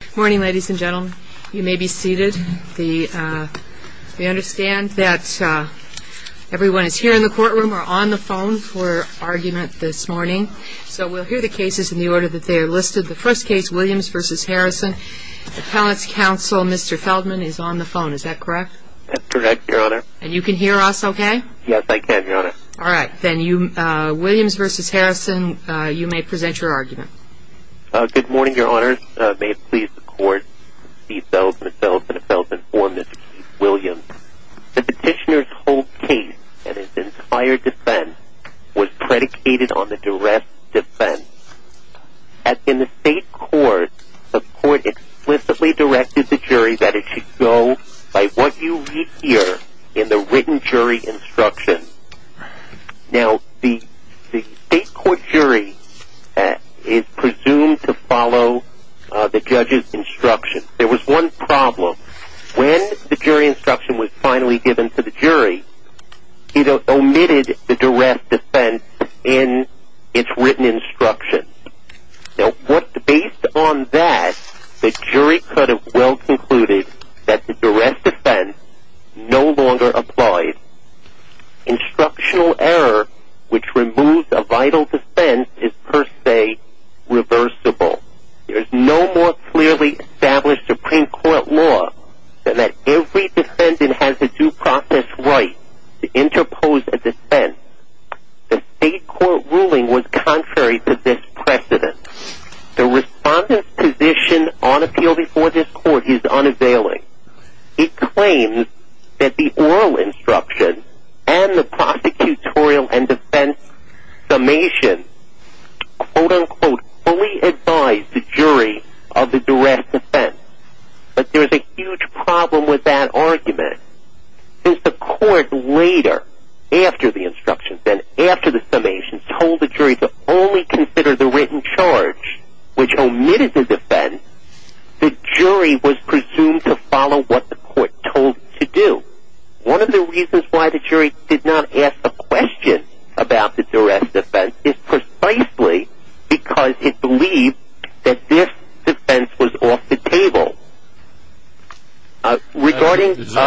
Good morning ladies and gentlemen. You may be seated. We understand that everyone is here in the courtroom or on the phone for argument this morning. So we'll hear the cases in the order that they are listed. The first case, Williams v. Harrison. Appellant's counsel, Mr. Feldman, is on the phone. Is that correct? That's correct, Your Honor. And you can hear us okay? Yes, I can, Your Honor. All right. Then Williams v. Harrison, you may present your argument. Good morning, Your Honors. May it please the Court, Mr. Feldman. Mr. Feldman, if I was informed, this is Keith Williams. The petitioner's whole case and his entire defense was predicated on the duress defense. As in the state court, the Court explicitly directed the jury that it should go by what you read here in the written jury instruction. Now, the state court jury is presumed to follow the judge's instruction. There was one problem. When the jury instruction was finally given to the jury, it omitted the duress defense in its written instruction. Now, based on that, the jury could have well concluded that the duress defense no longer applied. Instructional error, which removes a vital defense, is per se reversible. There is no more clearly established Supreme Court law than that every defendant has a due process right to interpose a defense. The state court ruling was contrary to this precedent. The respondent's position on appeal before this court is unavailing. It claims that the oral instruction and the prosecutorial and defense summation, quote-unquote, fully advise the jury of the duress defense. But there is a huge problem with that argument. Since the court later, after the instructions and after the summations, told the jury to only consider the written charge, which omitted the defense, the jury was presumed to follow what the court told it to do. One of the reasons why the jury did not ask a question about the duress defense is precisely because it believed that this defense was off the table.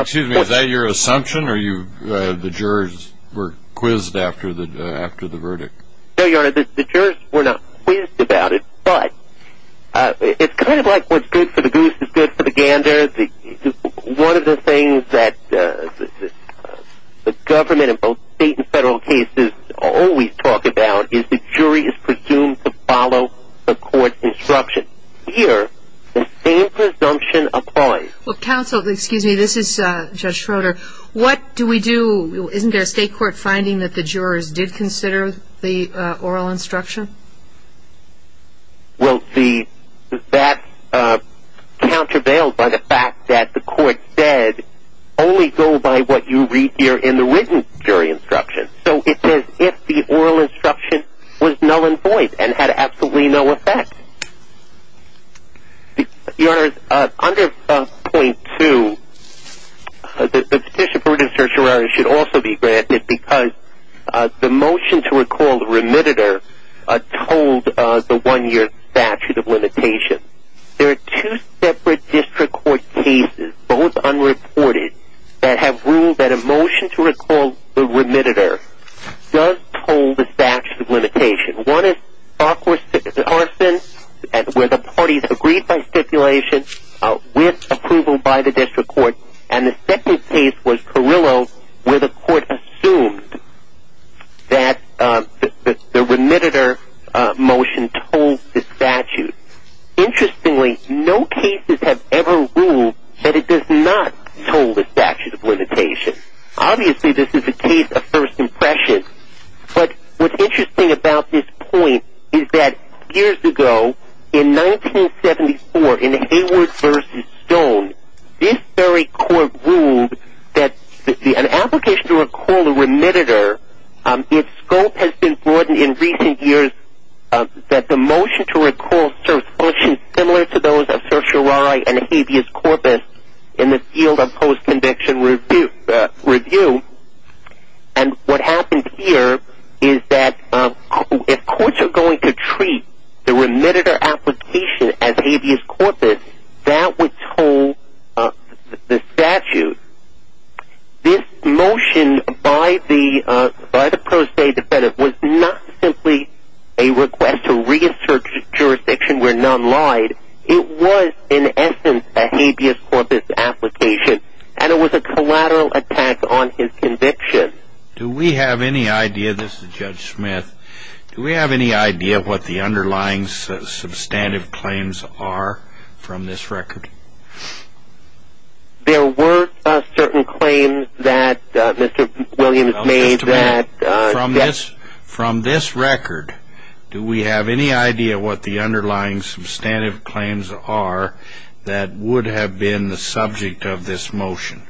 Excuse me, is that your assumption, or the jurors were quizzed after the verdict? No, Your Honor, the jurors were not quizzed about it, but it's kind of like what's good for the goose is good for the gander. One of the things that the government in both state and federal cases always talk about is the jury is presumed to follow the court's instruction. Here, the same presumption applies. Counsel, excuse me, this is Judge Schroeder. What do we do, isn't there a state court finding that the jurors did consider the oral instruction? We'll see. That's countervailed by the fact that the court said only go by what you read here in the written jury instruction. So it says if the oral instruction was null and void and had absolutely no effect. Your Honor, under 5.2, the petition for redemption for jurors should also be granted because the motion to recall the remittitor told the one-year statute of limitations. There are two separate district court cases, both unreported, that have ruled that a motion to recall the remittitor does hold the statute of limitations. One is Farquharson where the parties agreed by stipulation with approval by the district court, and the second case was Carrillo where the court assumed that the remittitor motion told the statute. Interestingly, no cases have ever ruled that it does not told the statute of limitations. Obviously, this is a case of first impression. But what's interesting about this point is that years ago, in 1974, in Hayward v. Stone, this very court ruled that an application to recall the remittitor, its scope has been broadened in recent years that the motion to recall serves functions similar to those of certiorari and habeas corpus in the field of post-conviction review. And what happened here is that if courts are going to treat the remittitor application as habeas corpus, that would toll the statute. This motion by the pro se defendant was not simply a request to reassert jurisdiction where none lied. It was, in essence, a habeas corpus application, and it was a collateral attack on his conviction. Do we have any idea, this is Judge Smith, do we have any idea what the underlying substantive claims are from this record? There were certain claims that Mr. Williams made that... From this record, do we have any idea what the underlying substantive claims are that would have been the subject of this motion?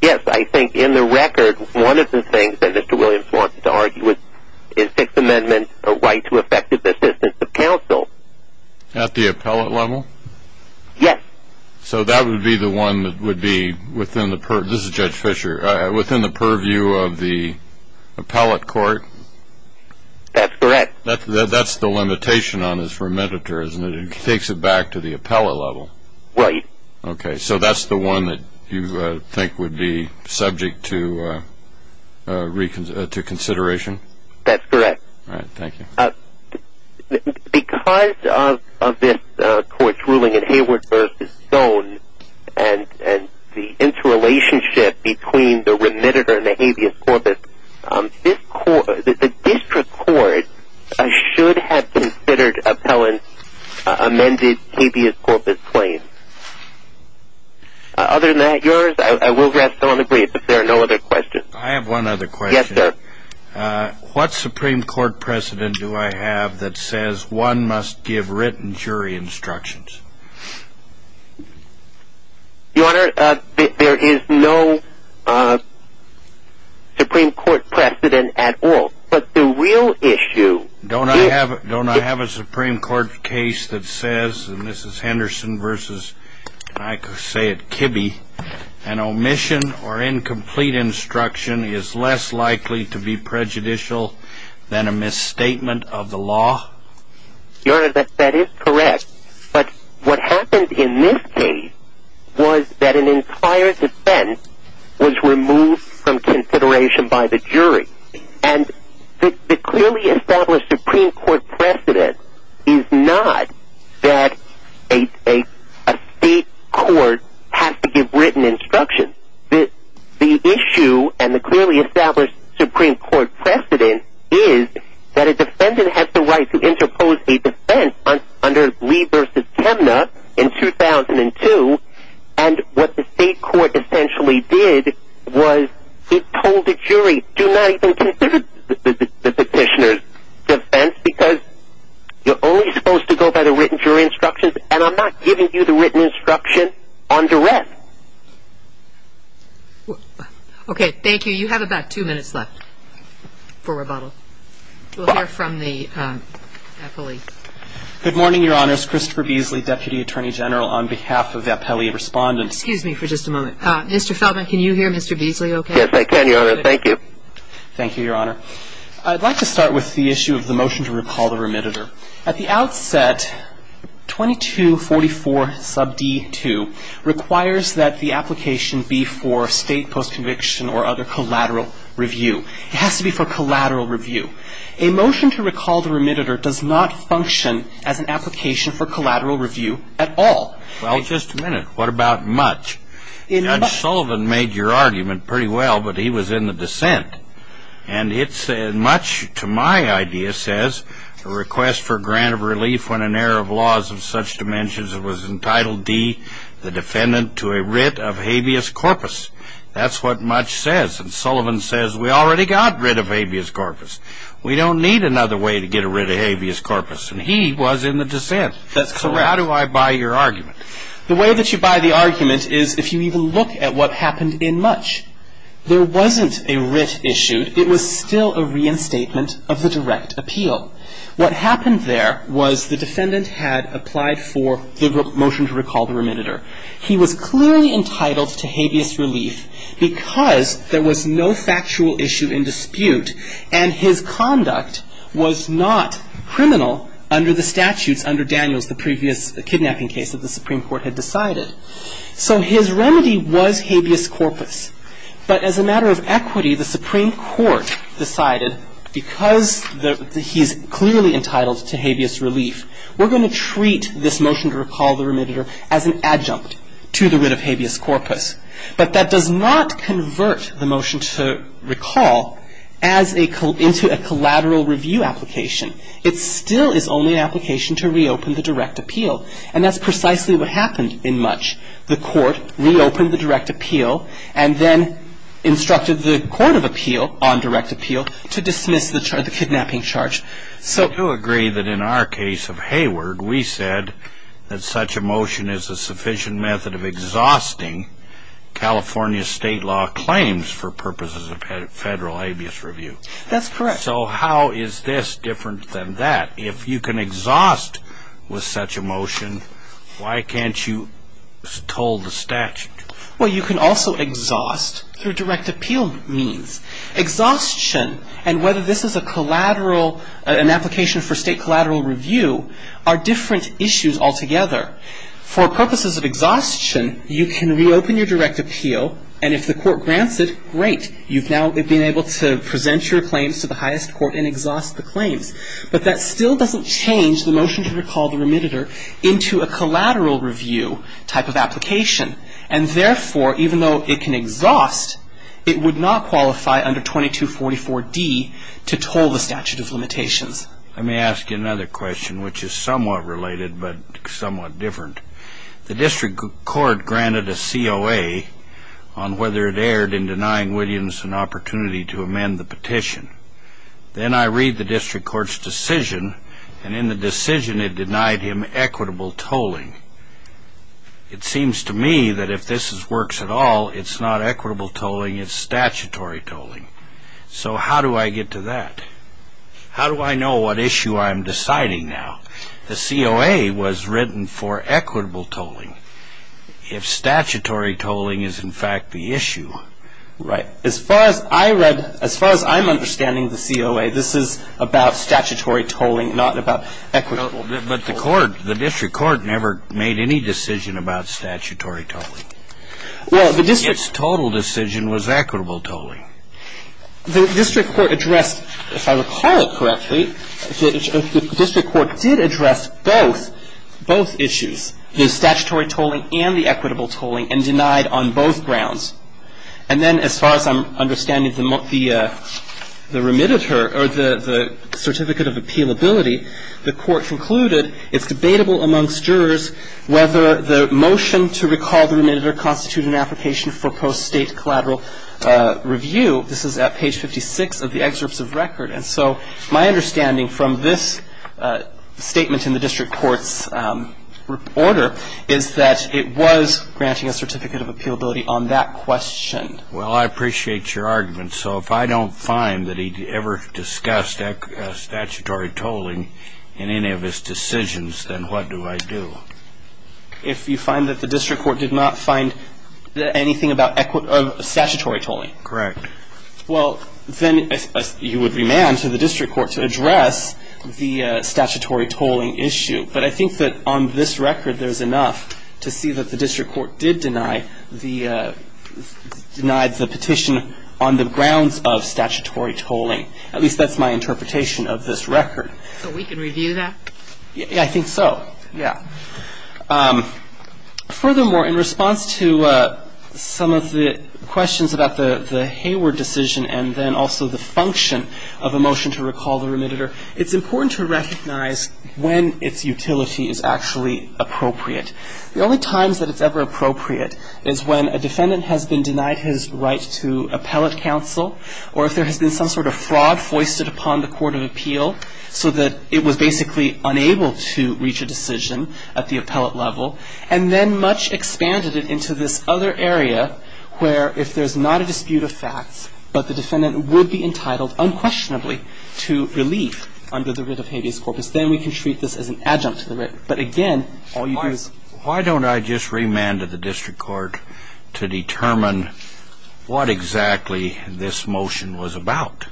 Yes, I think in the record, one of the things that Mr. Williams wanted to argue with is 6th Amendment right to effective assistance to counsel. At the appellate level? Yes. So that would be the one that would be within the purview of the appellate court? That's correct. That's the limitation on this remittitor, isn't it? It takes it back to the appellate level. Right. Okay, so that's the one that you think would be subject to consideration? That's correct. All right, thank you. Because of this court's ruling in Hayward v. Stone, and the interrelationship between the remittitor and the habeas corpus, the district court should have considered appellant's amended habeas corpus claim. Other than that, yours, I will rest on the brief if there are no other questions. I have one other question. Yes, sir. What Supreme Court precedent do I have that says one must give written jury instructions? Your Honor, there is no Supreme Court precedent at all. But the real issue is the real issue. Don't I have a Supreme Court case that says, and this is Henderson v. Kibbe, an omission or incomplete instruction is less likely to be prejudicial than a misstatement of the law? Your Honor, that is correct. But what happened in this case was that an entire defense was removed from consideration by the jury. And the clearly established Supreme Court precedent is not that a state court has to give written instructions. The issue and the clearly established Supreme Court precedent is that a defendant has the right to interpose a defense under Lee v. Temna in 2002. And what the state court essentially did was it told the jury, do not even consider the petitioner's defense because you're only supposed to go by the written jury instructions, and I'm not giving you the written instruction on duress. Okay, thank you. You have about two minutes left for rebuttal. We'll hear from the appellee. Good morning, Your Honor. It's Christopher Beasley, Deputy Attorney General, on behalf of the appellee respondents. Excuse me for just a moment. Mr. Feldman, can you hear Mr. Beasley okay? Yes, I can, Your Honor. Thank you. Thank you, Your Honor. I'd like to start with the issue of the motion to recall the remitter. At the outset, 2244 sub D2 requires that the application be for state post-conviction or other collateral review. It has to be for collateral review. A motion to recall the remitter does not function as an application for collateral review at all. Well, just a minute. What about much? And Sullivan made your argument pretty well, but he was in the dissent. And much to my idea says a request for grant of relief when an error of laws of such dimensions was entitled D, the defendant, to a writ of habeas corpus. That's what much says. And Sullivan says we already got writ of habeas corpus. We don't need another way to get a writ of habeas corpus. And he was in the dissent. That's correct. So how do I buy your argument? The way that you buy the argument is if you even look at what happened in much. There wasn't a writ issued. It was still a reinstatement of the direct appeal. What happened there was the defendant had applied for the motion to recall the remitter. He was clearly entitled to habeas relief because there was no factual issue in dispute and his conduct was not criminal under the statutes under Daniels, the previous kidnapping case that the Supreme Court had decided. So his remedy was habeas corpus. But as a matter of equity, the Supreme Court decided because he's clearly entitled to habeas relief, we're going to treat this motion to recall the remitter as an adjunct to the writ of habeas corpus. But that does not convert the motion to recall into a collateral review application. It still is only an application to reopen the direct appeal. And that's precisely what happened in much. The court reopened the direct appeal and then instructed the court of appeal on direct appeal to dismiss the kidnapping charge. I do agree that in our case of Hayward, we said that such a motion is a sufficient method of exhausting California state law claims for purposes of federal habeas review. That's correct. So how is this different than that? If you can exhaust with such a motion, why can't you toll the statute? Well, you can also exhaust through direct appeal means. Exhaustion and whether this is a collateral, an application for state collateral review are different issues altogether. For purposes of exhaustion, you can reopen your direct appeal. And if the court grants it, great. You've now been able to present your claims to the highest court and exhaust the claims. But that still doesn't change the motion to recall the remitter into a collateral review type of application. And therefore, even though it can exhaust, it would not qualify under 2244D to toll the statute of limitations. Let me ask you another question, which is somewhat related but somewhat different. The district court granted a COA on whether it erred in denying Williams an opportunity to amend the petition. Then I read the district court's decision. And in the decision, it denied him equitable tolling. It seems to me that if this works at all, it's not equitable tolling. It's statutory tolling. So how do I get to that? How do I know what issue I'm deciding now? The COA was written for equitable tolling. If statutory tolling is, in fact, the issue. Right. As far as I read, as far as I'm understanding the COA, this is about statutory tolling, not about equitable tolling. But the court, the district court never made any decision about statutory tolling. Its total decision was equitable tolling. The district court addressed, if I recall it correctly, the district court did address both issues, the statutory tolling and the equitable tolling, and denied on both grounds. And then, as far as I'm understanding, the remitter or the certificate of appealability, the court concluded it's debatable amongst jurors whether the motion to recall the remitter constitutes an application for post-State collateral review. This is at page 56 of the excerpts of record. And so my understanding from this statement in the district court's order is that it was granting a certificate of appealability on that question. Well, I appreciate your argument. So if I don't find that he ever discussed statutory tolling in any of his decisions, then what do I do? If you find that the district court did not find anything about statutory tolling. Correct. Well, then you would demand to the district court to address the statutory tolling issue. But I think that on this record there's enough to see that the district court did deny the petition on the grounds of statutory tolling. At least that's my interpretation of this record. So we can review that? Yeah, I think so. Yeah. Furthermore, in response to some of the questions about the Hayward decision and then also the function of a motion to recall the remitter, it's important to recognize when its utility is actually appropriate. The only times that it's ever appropriate is when a defendant has been denied his right to appellate counsel or if there has been some sort of fraud foisted upon the court of appeal so that it was basically unable to reach a decision at the appellate level and then much expanded it into this other area where if there's not a dispute of facts, but the defendant would be entitled unquestionably to relief under the writ of habeas corpus, then we can treat this as an adjunct to the writ. But again, all you do is ---- Why don't I just remand to the district court to determine what exactly this motion was about?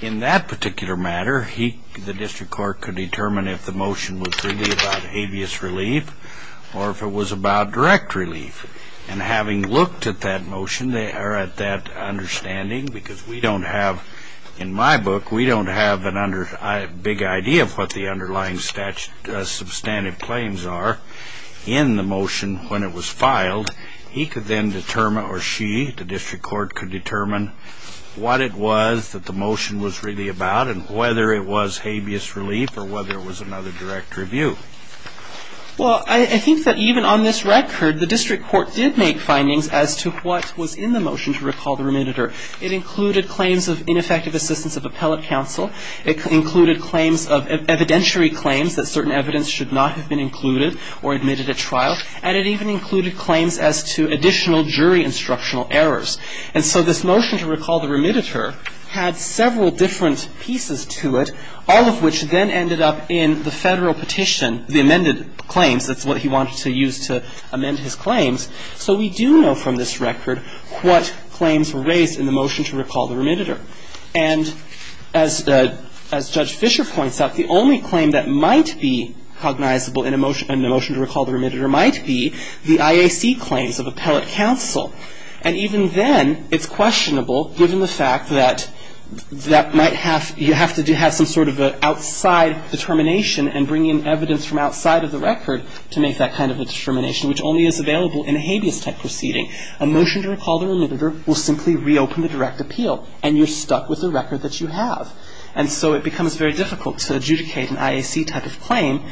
In that particular matter, the district court could determine if the motion was really about habeas relief or if it was about direct relief. And having looked at that motion, they are at that understanding because we don't have, in my book, we don't have a big idea of what the underlying substantive claims are in the motion when it was filed. He could then determine or she, the district court, could determine what it was that the motion was really about and whether it was habeas relief or whether it was another direct review. Well, I think that even on this record, the district court did make findings as to what was in the motion to recall the remediator. It included claims of ineffective assistance of appellate counsel. It included claims of evidentiary claims that certain evidence should not have been included or admitted at trial. And it even included claims as to additional jury instructional errors. And so this motion to recall the remediator had several different pieces to it, all of which then ended up in the Federal petition, the amended claims. That's what he wanted to use to amend his claims. So we do know from this record what claims were raised in the motion to recall the remediator. And as Judge Fischer points out, the only claim that might be cognizable in a motion to recall the remediator might be the IAC claims of appellate counsel. And even then, it's questionable, given the fact that that might have you have to have some sort of an outside determination and bring in evidence from outside of the record to make that kind of a determination, which only is available in a habeas type proceeding. A motion to recall the remediator will simply reopen the direct appeal and you're stuck with the record that you have. And so it becomes very difficult to adjudicate an IAC type of claim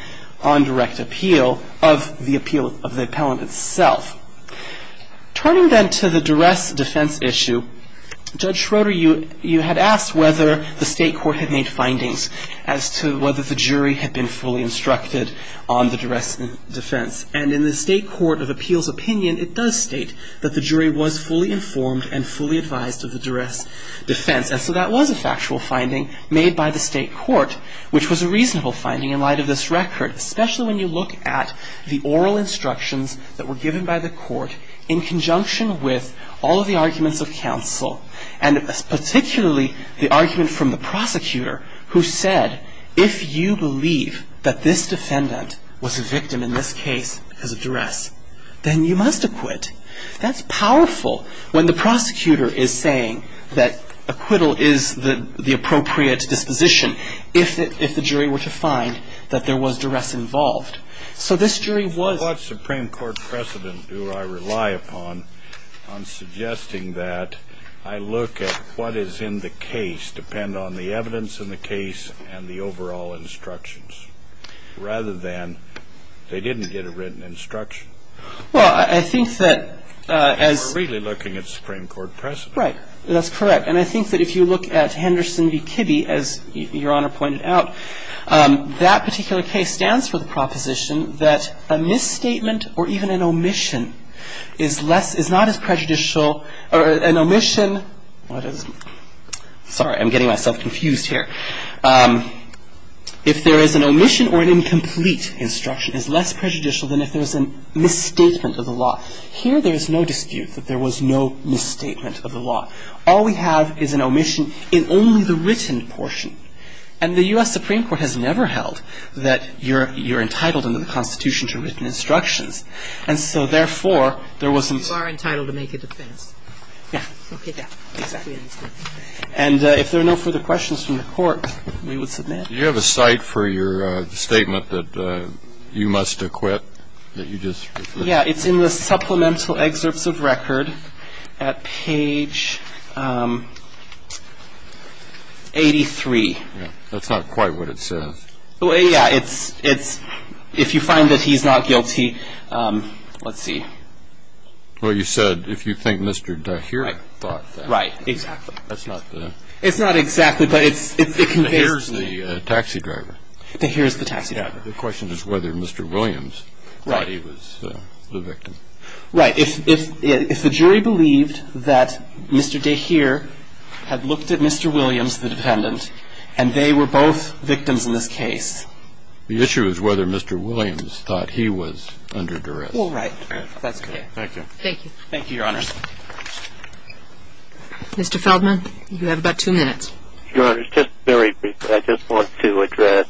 on direct appeal of the appeal of the appellant itself. Turning then to the duress defense issue, Judge Schroeder, you had asked whether the State Court had made findings as to whether the jury had been fully instructed on the duress defense. And in the State Court of Appeals opinion, it does state that the jury was fully informed and fully advised of the duress defense. And so that was a factual finding made by the State Court, which was a reasonable finding in light of this record, especially when you look at the oral instructions that were given by the court in conjunction with all of the arguments of counsel and particularly the argument from the prosecutor who said, if you believe that this defendant was a victim in this case because of duress, then you must acquit. That's powerful when the prosecutor is saying that acquittal is the appropriate disposition if the jury were to find that there was duress involved. So this jury was. Well, what Supreme Court precedent do I rely upon on suggesting that I look at what is in the case, depend on the evidence in the case and the overall instructions, rather than they didn't get a written instruction? Well, I think that as. We're really looking at Supreme Court precedent. Right. That's correct. And I think that if you look at Henderson v. Kibbe, as Your Honor pointed out, that particular case stands for the proposition that a misstatement or even an omission is less, is not as prejudicial, or an omission, sorry, I'm getting myself confused here. If there is an omission or an incomplete instruction is less prejudicial than if there is a misstatement of the law. Here there is no dispute that there was no misstatement of the law. All we have is an omission in only the written portion. And the U.S. Supreme Court has never held that you're entitled in the Constitution to written instructions. And so, therefore, there was. You are entitled to make a defense. Yeah. Okay. Yeah. Exactly. And if there are no further questions from the Court, we would submit. Do you have a cite for your statement that you must acquit, that you just. Yeah, it's in the supplemental excerpts of record at page 83. That's not quite what it says. Yeah, it's, if you find that he's not guilty, let's see. Well, you said if you think Mr. Tahir thought that. Right, exactly. That's not the. It's not exactly, but it conveys. Tahir's the taxi driver. Tahir's the taxi driver. The question is whether Mr. Williams thought he was the victim. Right. If the jury believed that Mr. Tahir had looked at Mr. Williams, the defendant, and they were both victims in this case. The issue is whether Mr. Williams thought he was under duress. Well, right. That's correct. Thank you. Thank you. Thank you, Your Honor. Mr. Feldman, you have about two minutes. Your Honor, just very briefly, I just want to address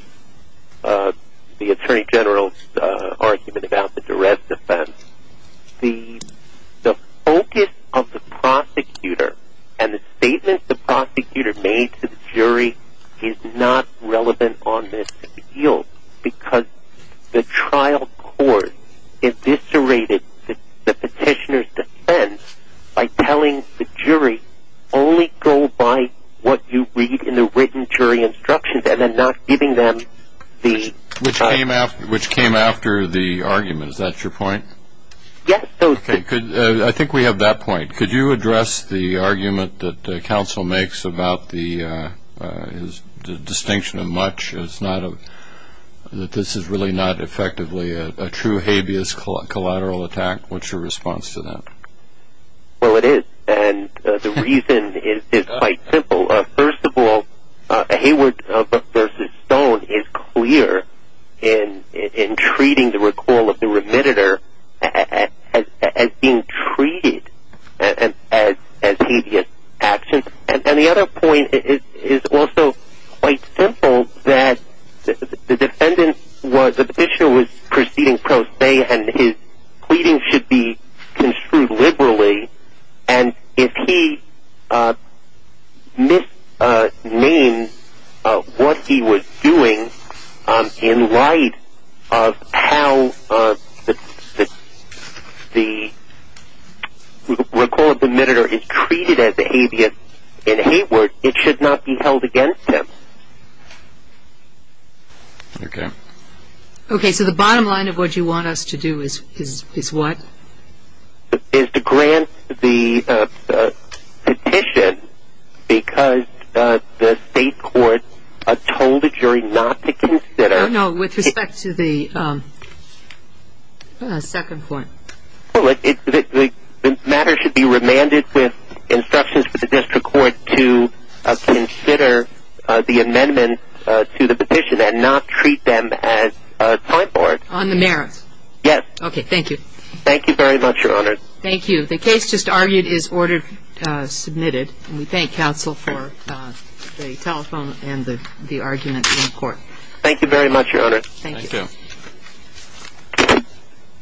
the Attorney General's argument about the duress defense. The focus of the prosecutor and the statements the prosecutor made to the jury is not relevant on this appeal because the trial court eviscerated the petitioner's defense by telling the jury only go by what you read in the written jury instructions and then not giving them the... Which came after the argument. Is that your point? Yes. Okay. I think we have that point. Could you address the argument that counsel makes about the distinction of much, that this is really not effectively a true habeas collateral attack? What's your response to that? Well, it is. And the reason is quite simple. First of all, Hayward v. Stone is clear in treating the recall of the remitter as being treated as habeas action. And the other point is also quite simple, that the petitioner was proceeding pro se and his pleading should be construed liberally. And if he misnames what he was doing in light of how the recall of the remitter is treated as habeas in Hayward, it should not be held against him. Okay. Okay, so the bottom line of what you want us to do is what? Is to grant the petition because the state court told the jury not to consider... No, with respect to the second point. Well, the matter should be remanded with instructions for the district court to consider the amendment to the petition and not treat them as a time board. On the merits? Yes. Okay, thank you. Thank you very much, Your Honor. Thank you. The case just argued is ordered submitted. And we thank counsel for the telephone and the argument in court. Thank you very much, Your Honor. Thank you. Thank you.